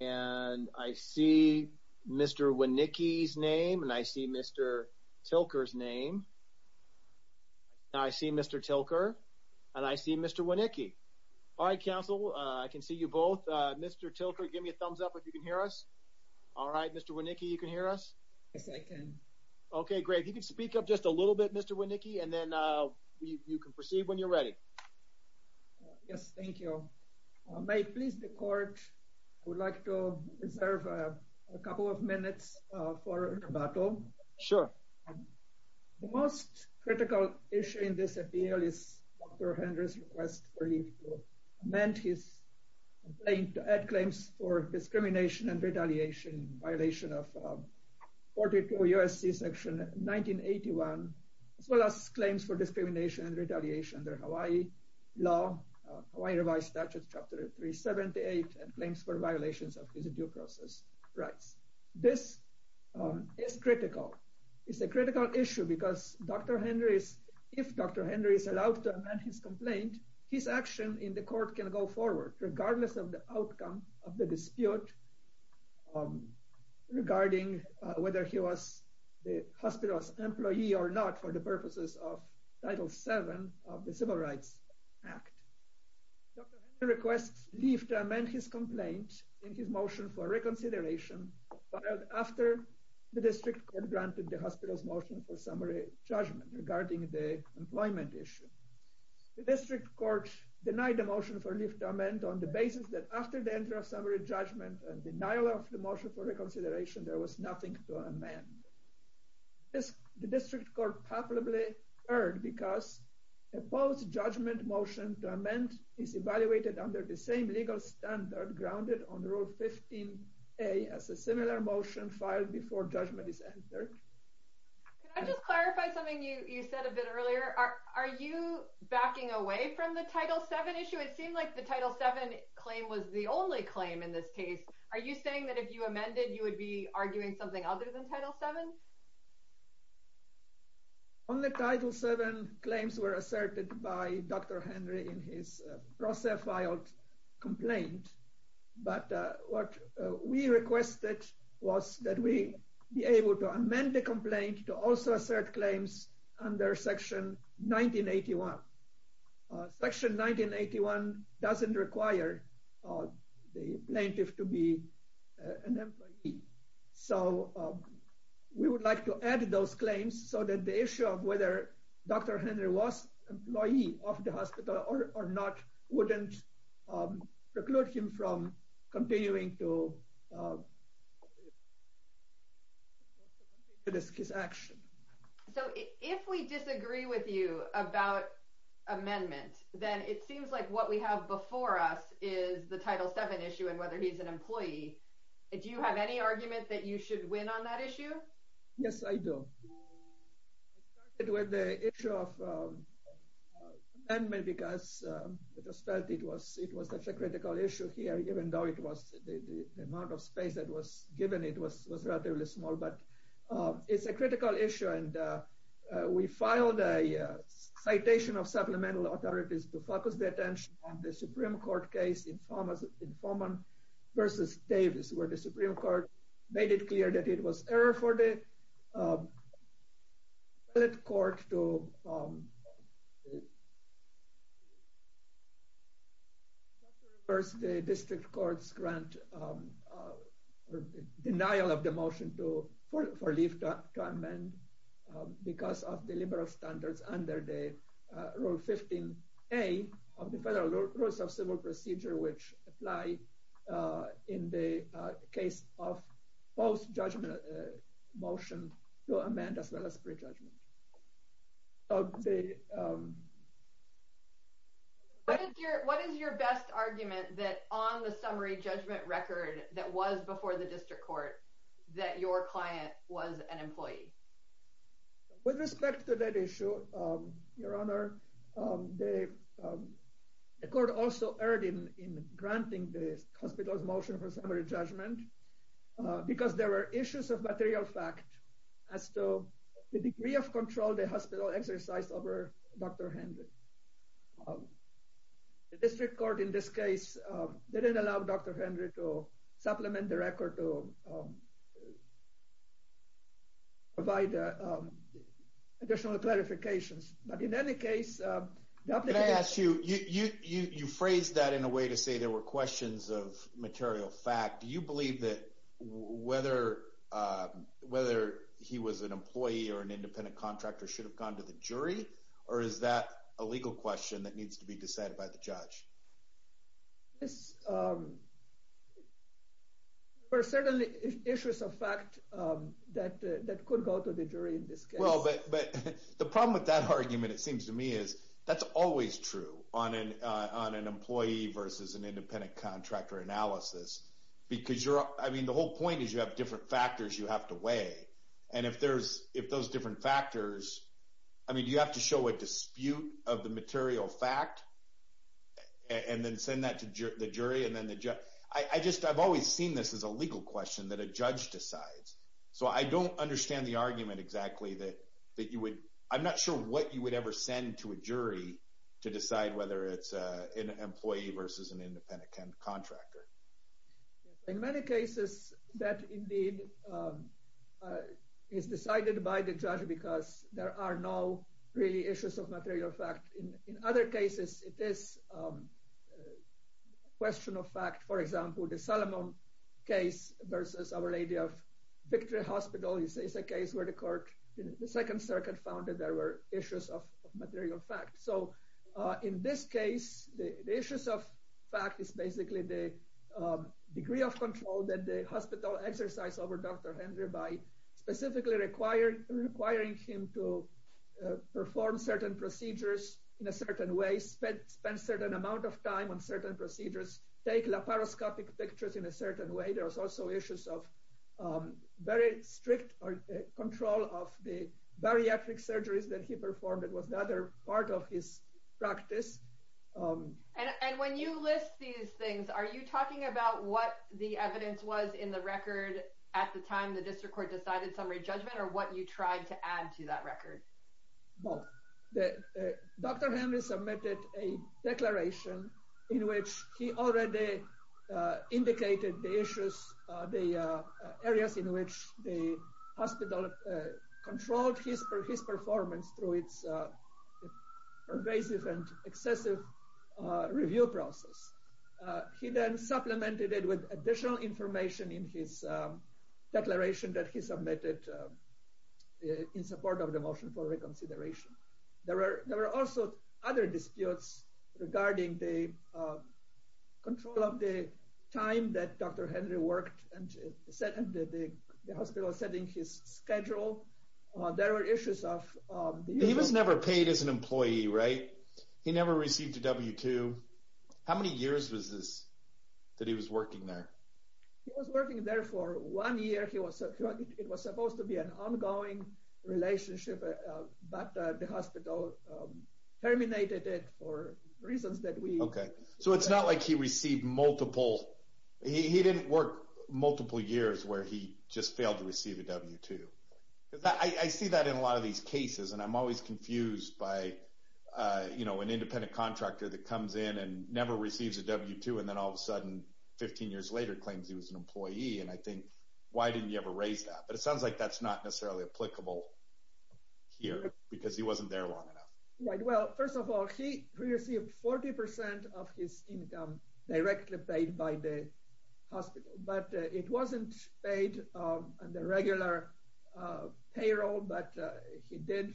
and I see Mr. Winnicki's name and I see Mr. Tilker's name. I see Mr. Tilker and I see Mr. Winnicki. All right council I can see you both. Mr. Tilker give me a thumbs up if you can hear us. All right Mr. Winnicki you can hear us? Yes I can. Okay great. You can speak up just a little bit Mr. Winnicki and then you can proceed when you're ready. Yes thank you. May it please the court I would like to reserve a couple of minutes for rebuttal. Sure. The most critical issue in this appeal is Dr. Henry's request for leave to amend his complaint to add claims for discrimination and retaliation in violation of 42 U.S.C. section 1981 as well as claims for discrimination and retaliation under Hawaii law Hawaii revised statutes chapter 378 and claims for violations of his due process rights. This is critical. It's a critical issue because Dr. Henry's if Dr. Henry is allowed to amend his complaint his action in the court can go forward regardless of the outcome of the dispute regarding whether he was the hospital's employee or not for the purposes of title seven of the civil rights act. Dr. Henry requests leave to amend his complaint in his motion for reconsideration filed after the district court granted the hospital's motion for summary judgment regarding the employment issue. The district court denied the motion for leave to amend on the basis that after the entry of summary judgment and denial of the motion for reconsideration there was nothing to amend. This the district court probably heard because a post judgment motion to amend is evaluated under the same legal standard grounded on rule 15a as a similar motion filed before judgment is entered. Can I just clarify something you you said a bit earlier are are you backing away from the title 7 issue it seemed like the title 7 claim was the only claim in this case are you saying that if you amended you would be arguing something other than title 7? Only title 7 claims were asserted by Dr. Henry in his process filed complaint but what we requested was that we be able to amend the complaint to also assert claims under section 1981. Section 1981 doesn't require the plaintiff to be an employee so we would like to add those claims so that the issue of whether Dr. Henry was employee of the hospital or or not wouldn't preclude him from continuing to his action. So if we disagree with you about amendment then it seems like what we have before us is the title 7 issue and whether he's an employee do you have any argument that you should win on that issue? Yes I do. I started with the issue of amendment because I just felt it was it was such a critical issue here even though it was the amount of space that was given it was relatively small but it's a critical issue and we filed a citation of supplemental authorities to focus the attention on the Supreme Court case in Forman versus Davis where the Supreme Court made it clear that it was error for the court to reverse the district court's grant or denial of the motion to for for leave to amend because of the liberal standards under the Rule 15a of the Federal Rules of Civil Procedure which apply in the case of post-judgment motion to amend as well as prejudgment. What is your best argument that on the summary judgment record that was before the district court that your client was an employee? With respect to that issue, Your Honor, the court also erred in granting the hospital's motion for summary judgment because there were issues of material fact as to the degree of control the hospital exercised over Dr. Hendry. The district court in this case didn't allow Dr. Hendry to supplement the record to provide additional clarifications but in any case... Can I ask you, you phrased that in a way to say there were questions of he was an employee or an independent contractor should have gone to the jury or is that a legal question that needs to be decided by the judge? Yes, there were certainly issues of fact that could go to the jury in this case. The problem with that argument, it seems to me, is that's always true on an employee versus an independent contractor analysis because the whole point is you have different factors you have to if those different factors, I mean, you have to show a dispute of the material fact and then send that to the jury. I've always seen this as a legal question that a judge decides. So I don't understand the argument exactly that you would... I'm not sure what you would ever send to a jury to decide whether it's an employee versus an independent contractor. Yes, in many cases that indeed is decided by the judge because there are no really issues of material fact. In other cases, it is a question of fact, for example, the Salomon case versus Our Lady of Victory Hospital. You say it's a case where the court in the Second Circuit found that there were issues of material fact. So in this case, the issues of degree of control that the hospital exercised over Dr. Henry by specifically requiring him to perform certain procedures in a certain way, spend certain amount of time on certain procedures, take laparoscopic pictures in a certain way. There was also issues of very strict control of the bariatric surgeries that he performed. It was another part of his what the evidence was in the record at the time the district court decided summary judgment or what you tried to add to that record? Well, Dr. Henry submitted a declaration in which he already indicated the issues, the areas in which the hospital controlled his performance through its pervasive and excessive review process. He then supplemented it with additional information in his declaration that he submitted in support of the motion for reconsideration. There were also other disputes regarding the control of the time that Dr. Henry worked and the hospital setting his schedule. There were issues of He was never paid as an employee, right? He never received a W-2. How many years was this that he was working there? He was working there for one year. It was supposed to be an ongoing relationship, but the hospital terminated it for reasons that we So it's not like he received multiple. He didn't work multiple years where he just failed to receive a W-2. I see that in a lot of these cases, and I'm always confused by, you know, an independent contractor that comes in and never receives a W-2 and then all of a sudden, 15 years later, claims he was an employee. And I think, why didn't you ever raise that? But it sounds like that's not necessarily applicable here, because he wasn't there long enough. Well, first of all, he received 40% of his income directly paid by the hospital, but it wasn't paid on the regular payroll, but he did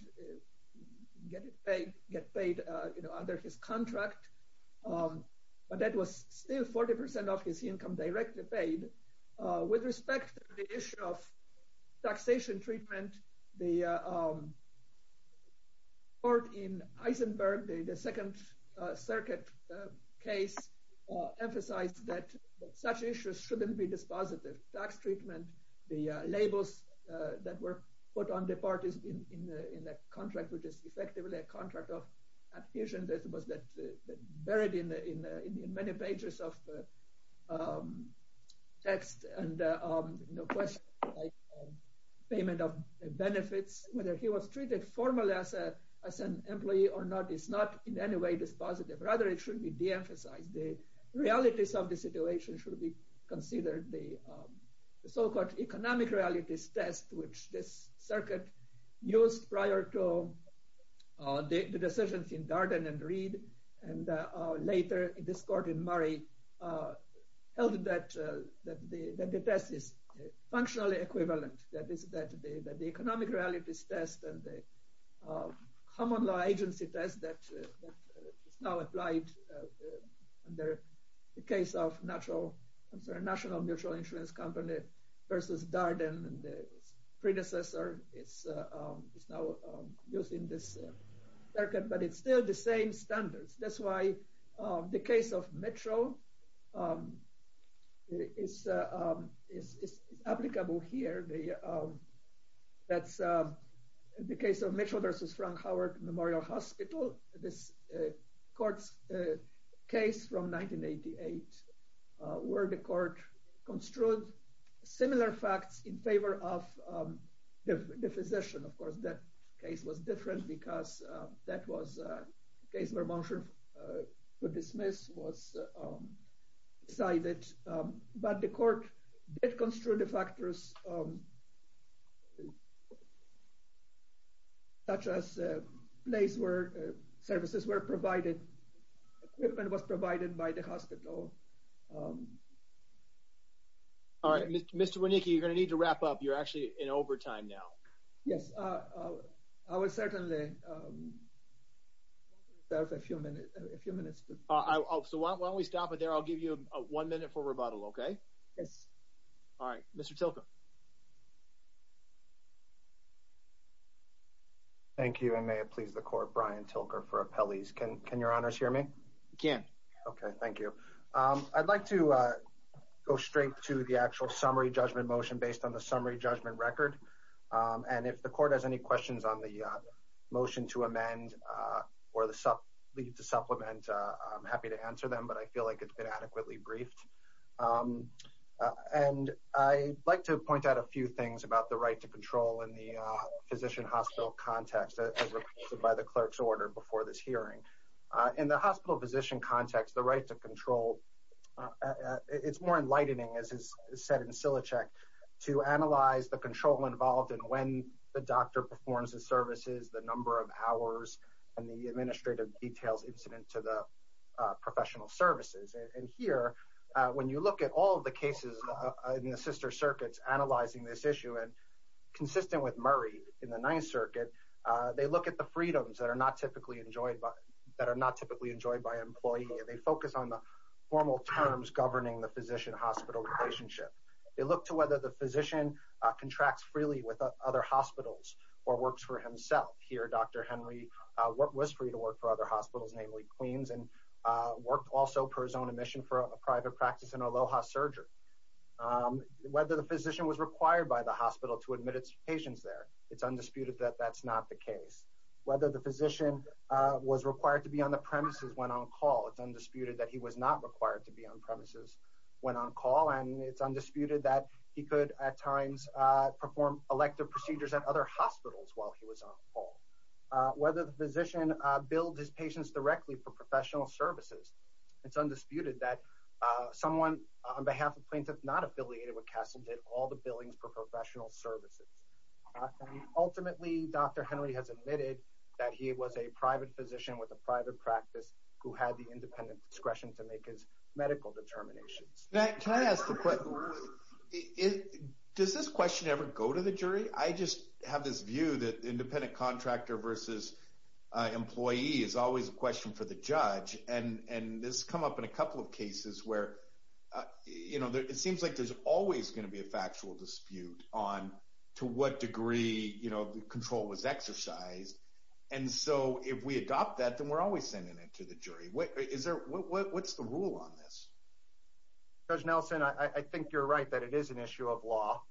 get it paid, get paid, you know, under his contract. But that was still 40% of his income directly paid. With respect to the issue of taxation treatment, the court in Heisenberg, the Second Circuit case, emphasized that such issues shouldn't be dispositive. Tax treatment, the labels that were put on the parties in the contract, which is effectively a contract of adhesion that was buried in many pages of text and, you know, questions like payment of benefits, whether he was treated formally as an employee or not, is not in any way dispositive. Rather, it should be de-emphasized. The realities of the situation should be considered. The so-called economic realities test, which this circuit used prior to the decisions in Darden and Reed, and later, this court in Murray, held that the test is functionally equivalent, that the economic realities test and the common law agency test that is now applied under the case of National Mutual Insurance Company versus Darden and its predecessor is now used in this circuit, but it's still the same standards. That's why the case of Mitchell is applicable here. That's the case of Mitchell versus Frank Howard Memorial Hospital, this court's case from 1988, where the court construed similar facts in favor of the physician. Of course, that case was different because that was a case where a motion to dismiss was decided, but the court did construe the factors such as a place where services were provided, equipment was provided by the hospital. All right, Mr. Wieniecki, you're going to need to wrap up. You're actually in overtime now. Yes, I will certainly have a few minutes. So, why don't we stop it there? I'll give you one minute for rebuttal, okay? Yes. All right, Mr. Tilker. Thank you, and may it please the court, Brian Tilker for appellees. Can your honors hear me? We can. Okay, thank you. I'd like to go straight to the actual summary judgment motion based on summary judgment record, and if the court has any questions on the motion to amend or leave to supplement, I'm happy to answer them, but I feel like it's been adequately briefed. And I'd like to point out a few things about the right to control in the physician-hospital context as requested by the clerk's order before this hearing. In the hospital-physician context, the right to control, it's more enlightening, as is said in Silichek, to analyze the control involved in when the doctor performs the services, the number of hours, and the administrative details incident to the professional services. And here, when you look at all the cases in the sister circuits analyzing this issue, and consistent with Murray in the Ninth Circuit, they look at the freedoms that are not typically enjoyed by an employee, and they focus on the formal terms governing the physician-hospital relationship. They look to whether the physician contracts freely with other hospitals or works for himself. Here, Dr. Henry was free to work for other hospitals, namely Queens, and worked also per his own admission for a private practice in Aloha Surgery. Whether the physician was required by the hospital to admit its patients there, it's undisputed that that's not the case. Whether the physician was required to be on the premises when on call, it's undisputed that he was not required to be on premises when on call, and it's undisputed that he could, at times, perform elective procedures at other hospitals while he was on call. Whether the physician billed his patients directly for professional services, it's undisputed that someone on behalf of plaintiffs not affiliated with Castle did all the billings for professional services. Ultimately, Dr. Henry has admitted that he was a private physician with a private practice who had the independent discretion to make his medical determinations. Can I ask a question? Does this question ever go to the jury? I just have this view that independent contractor versus employee is always a question for the judge, and this has in a couple of cases where, you know, it seems like there's always going to be a factual dispute on to what degree, you know, the control was exercised, and so if we adopt that, then we're always sending it to the jury. What's the rule on this? Judge Nelson, I think you're right that it is an issue of law,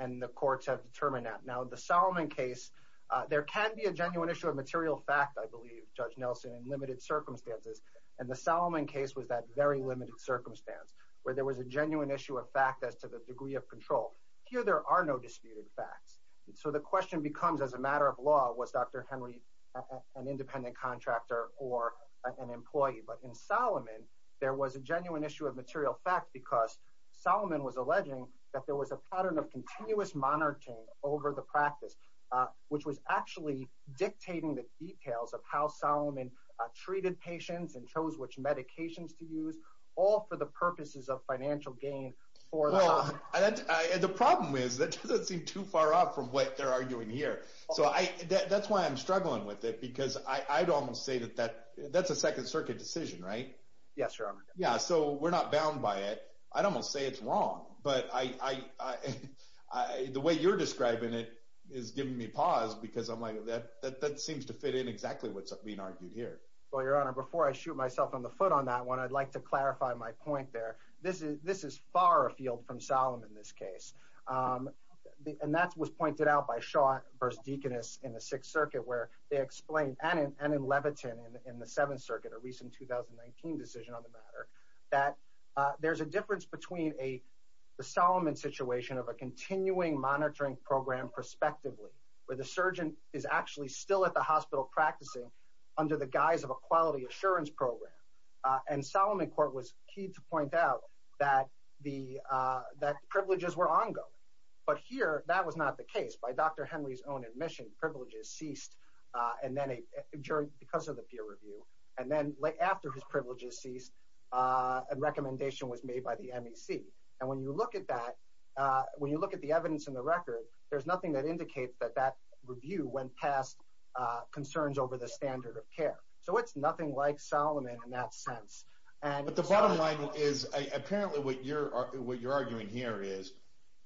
and the courts have determined that. Now, the Salomon case, there can be a genuine issue of material fact, I believe, Judge Nelson, in limited circumstances, and the Salomon case was that very limited circumstance where there was a genuine issue of fact as to the degree of control. Here, there are no disputed facts, so the question becomes, as a matter of law, was Dr. Henry an independent contractor or an employee? But in Salomon, there was a genuine issue of material fact because Salomon was alleging that there was a pattern of continuous monitoring over the details of how Salomon treated patients and chose which medications to use, all for the purposes of financial gain. Well, the problem is that doesn't seem too far off from what they're arguing here, so that's why I'm struggling with it, because I'd almost say that that's a second circuit decision, right? Yes, Your Honor. Yeah, so we're not bound by it. I'd almost say it's wrong, but the way you're describing it is giving me pause because I'm like, that seems to fit in exactly what's being argued here. Well, Your Honor, before I shoot myself on the foot on that one, I'd like to clarify my point there. This is far afield from Salomon in this case, and that was pointed out by Shaw versus Deaconess in the Sixth Circuit, where they explained, and in Levitin in the Seventh Circuit, a recent 2019 decision on the matter, that there's a situation of a continuing monitoring program prospectively, where the surgeon is actually still at the hospital practicing under the guise of a quality assurance program, and Salomon Court was key to point out that privileges were ongoing, but here that was not the case. By Dr. Henry's own admission, privileges ceased because of the peer review, and then after his privileges ceased, a recommendation was made by the MEC, and when you look at that, when you look at the evidence in the record, there's nothing that indicates that that review went past concerns over the standard of care. So it's nothing like Salomon in that sense. But the bottom line is, apparently what you're arguing here is,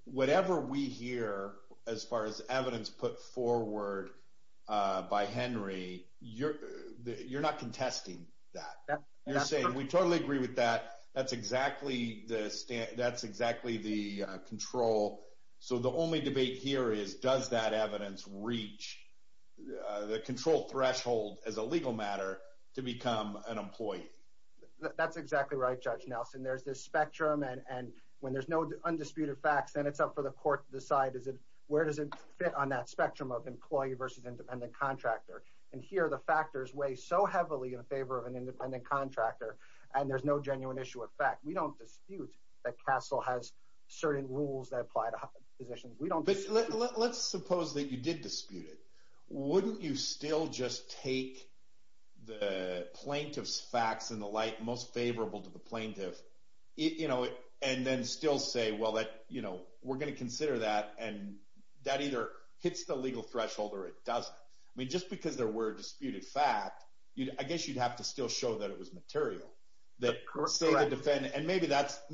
whatever we hear as far as evidence put forward by Henry, you're not contesting that. You're saying, we totally agree with that. That's exactly the control. So the only debate here is, does that evidence reach the control threshold as a legal matter to become an employee? That's exactly right, Judge Nelson. There's this spectrum, and when there's no undisputed facts, then it's up for the court to decide, where does it fit on that in favor of an independent contractor, and there's no genuine issue of fact. We don't dispute that CASEL has certain rules that apply to positions. But let's suppose that you did dispute it. Wouldn't you still just take the plaintiff's facts in the light most favorable to the plaintiff, and then still say, well, we're going to consider that, and that either hits the legal threshold or it doesn't. I mean, just because there were disputed facts, I guess you'd have to still show that it was material. And maybe that's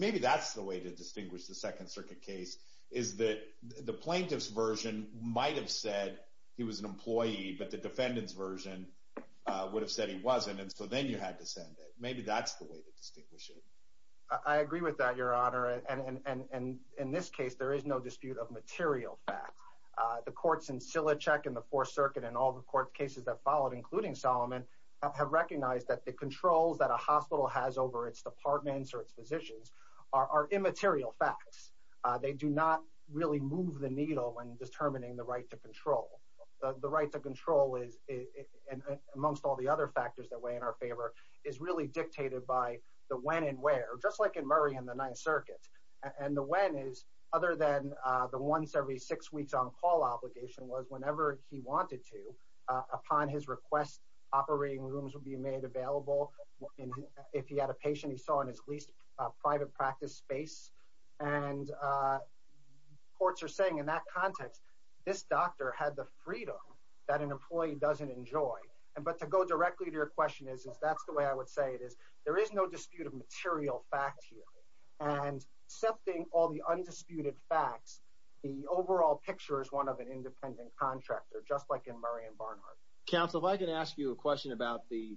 the way to distinguish the Second Circuit case, is that the plaintiff's version might have said he was an employee, but the defendant's version would have said he wasn't, and so then you had to send it. Maybe that's the way to distinguish it. I agree with that, Your Honor. And in this case, there is no dispute of the Fourth Circuit, and all the court cases that followed, including Solomon, have recognized that the controls that a hospital has over its departments or its physicians are immaterial facts. They do not really move the needle when determining the right to control. The right to control, amongst all the other factors that weigh in our favor, is really dictated by the when and where, just like in Murray and the Ninth Circuit. And the when is, other than the once every six weeks on call obligation, was whenever he wanted to, upon his request, operating rooms would be made available. If he had a patient he saw in his least private practice space, and courts are saying in that context, this doctor had the freedom that an employee doesn't enjoy. But to go directly to your question, is that's the way I would say it, is there is no dispute of material facts here. And accepting all the undisputed facts, the overall picture is one of an independent contractor, just like in Murray and Barnhart. Counsel, if I can ask you a question about the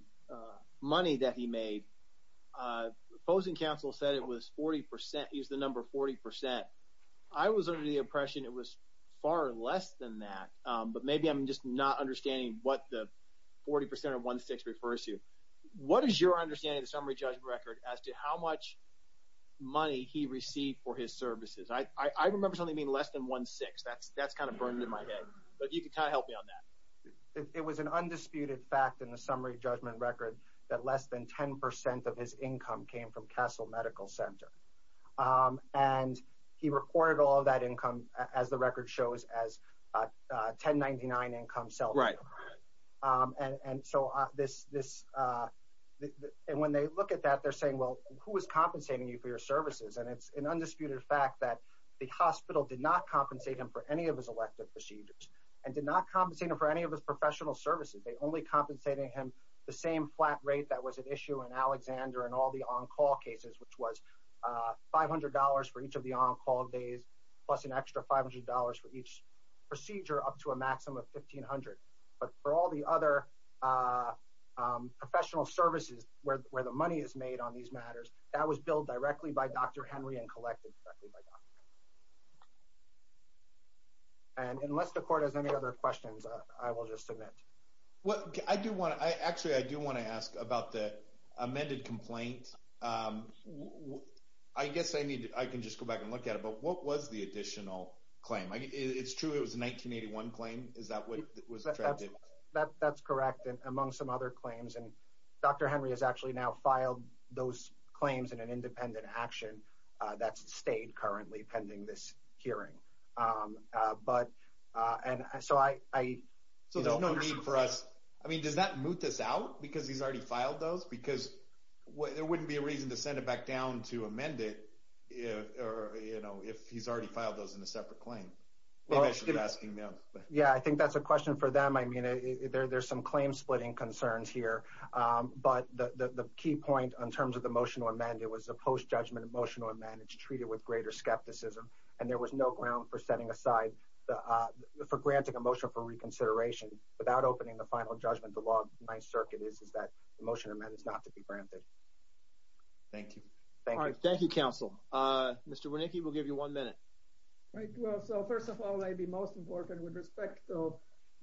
money that he made. Fozen counsel said it was 40 percent. He's the number 40 percent. I was under the impression it was far less than that, but maybe I'm just not understanding what the 40 percent of 1.6 refers to. What is your understanding of the summary judgment record as to how much money he received for his services? I remember something being less than 1.6. That's kind of burned in my head, but you can kind of help me on that. It was an undisputed fact in the summary judgment record that less than 10 percent of his income came from Castle Medical Center. And he recorded all that income, as the record shows, as a 1099 income salary. And when they look at that, they're saying, well, who is compensating you for your services? And it's an undisputed fact that the hospital did not compensate him for any of his elective procedures and did not compensate him for any of his professional services. They only compensated him the same flat rate that was at issue in Alexander and all the $500 for each of the on-call days plus an extra $500 for each procedure up to a maximum of $1,500. But for all the other professional services where the money is made on these matters, that was billed directly by Dr. Henry and collected directly by Dr. Henry. And unless the court has any other questions, I will just submit. Well, I do want to, actually, I do want to ask about the amended complaint. I guess I need to, I can just go back and look at it, but what was the additional claim? It's true it was a 1981 claim. Is that what it was? That's correct. And among some other claims, and Dr. Henry has actually now filed those claims in an independent action that's stayed currently pending this hearing. But, and so I, so there's no need for us, I mean, does that moot this out because he's already filed those? Because there wouldn't be a reason to send it back down to amend it, or, you know, if he's already filed those in a separate claim. Yeah, I think that's a question for them. I mean, there's some claim splitting concerns here. But the key point in terms of the motion to amend, it was a post-judgment motion to amend. It's treated with greater skepticism, and there was no ground for setting aside, for granting a motion for reconsideration without opening the final judgment. The law of the Ninth Circuit is that the motion to amend is not to be granted. Thank you. Thank you. Thank you, counsel. Mr. Wernicke, we'll give you one minute. Right. Well, so first of all, I'd be most important with respect to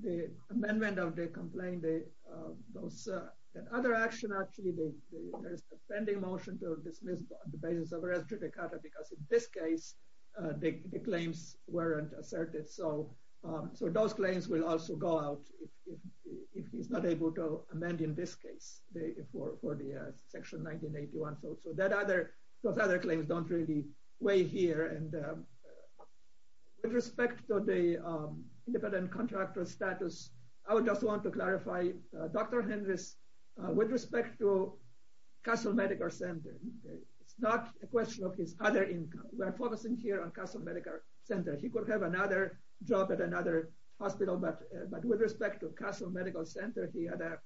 the amendment of the complaint, the other action, actually, the pending motion to dismiss the basis of asserted. So those claims will also go out if he's not able to amend in this case, for the section 1981. So those other claims don't really weigh here. And with respect to the independent contractor status, I would just want to clarify, Dr. Henrys, with respect to Castle Medical Center, it's not a question of his other income. We're focusing here on Castle Medical Center. He could have another job at another hospital, but with respect to Castle Medical Center, he had an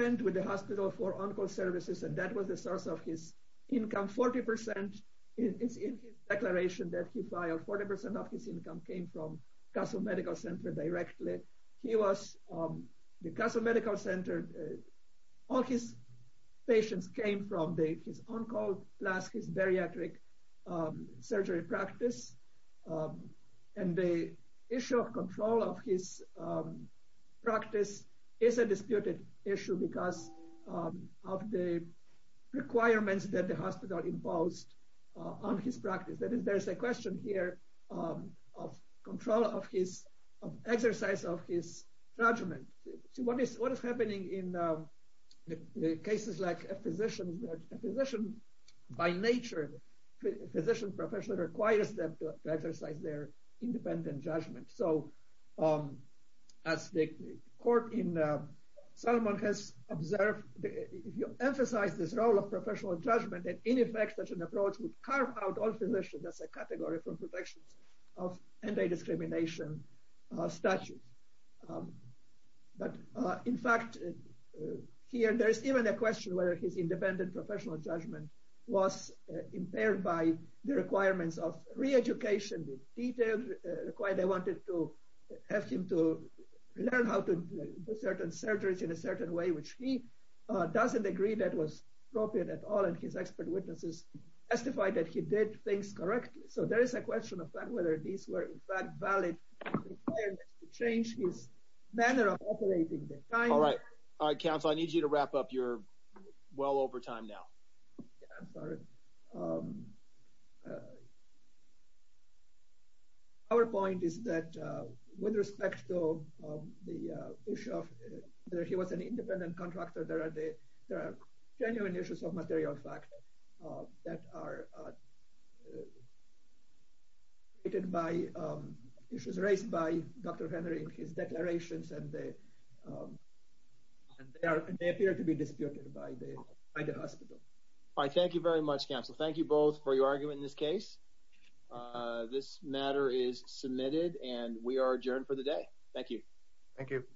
agreement with the hospital for on-call services, and that was the source of his income. Forty percent is in his declaration that he filed. Forty percent of his income came from Castle Medical Center directly. He was, the Castle Medical Center, all his patients came from his on-call plus his bariatric surgery practice. And the issue of control of his practice is a disputed issue because of the requirements that the hospital imposed on his practice. That is, there's a question here of control of his, of exercise of his judgment. So what is happening in the cases like a physician, a physician by nature, physician professional requires them to exercise their independent judgment. So as the court in Solomon has observed, if you emphasize this role of professional judgment, that in effect, such an approach would carve out all physicians as a category for protections of anti-discrimination statutes. But in fact, here there's even a question whether his independent professional judgment was impaired by the requirements of re-education with detailed required. They wanted to have him to learn how to do certain surgeries in a certain way, which he doesn't agree that was appropriate at all. And his expert witnesses testified that he did things correctly. So there is a question of whether these were in fact valid to change his manner of operating the time. All right. All right, counsel, I need you to wrap up. You're well over time now. Our point is that with respect to the issue of whether he was an independent contractor, there are genuine issues of material fact that are created by issues raised by Dr. Henry in his declarations and they appear to be disputed by the hospital. All right. Thank you very much, counsel. Thank you both for your argument in this case. This matter is submitted and we are adjourned for the day. Thank you. Thank you.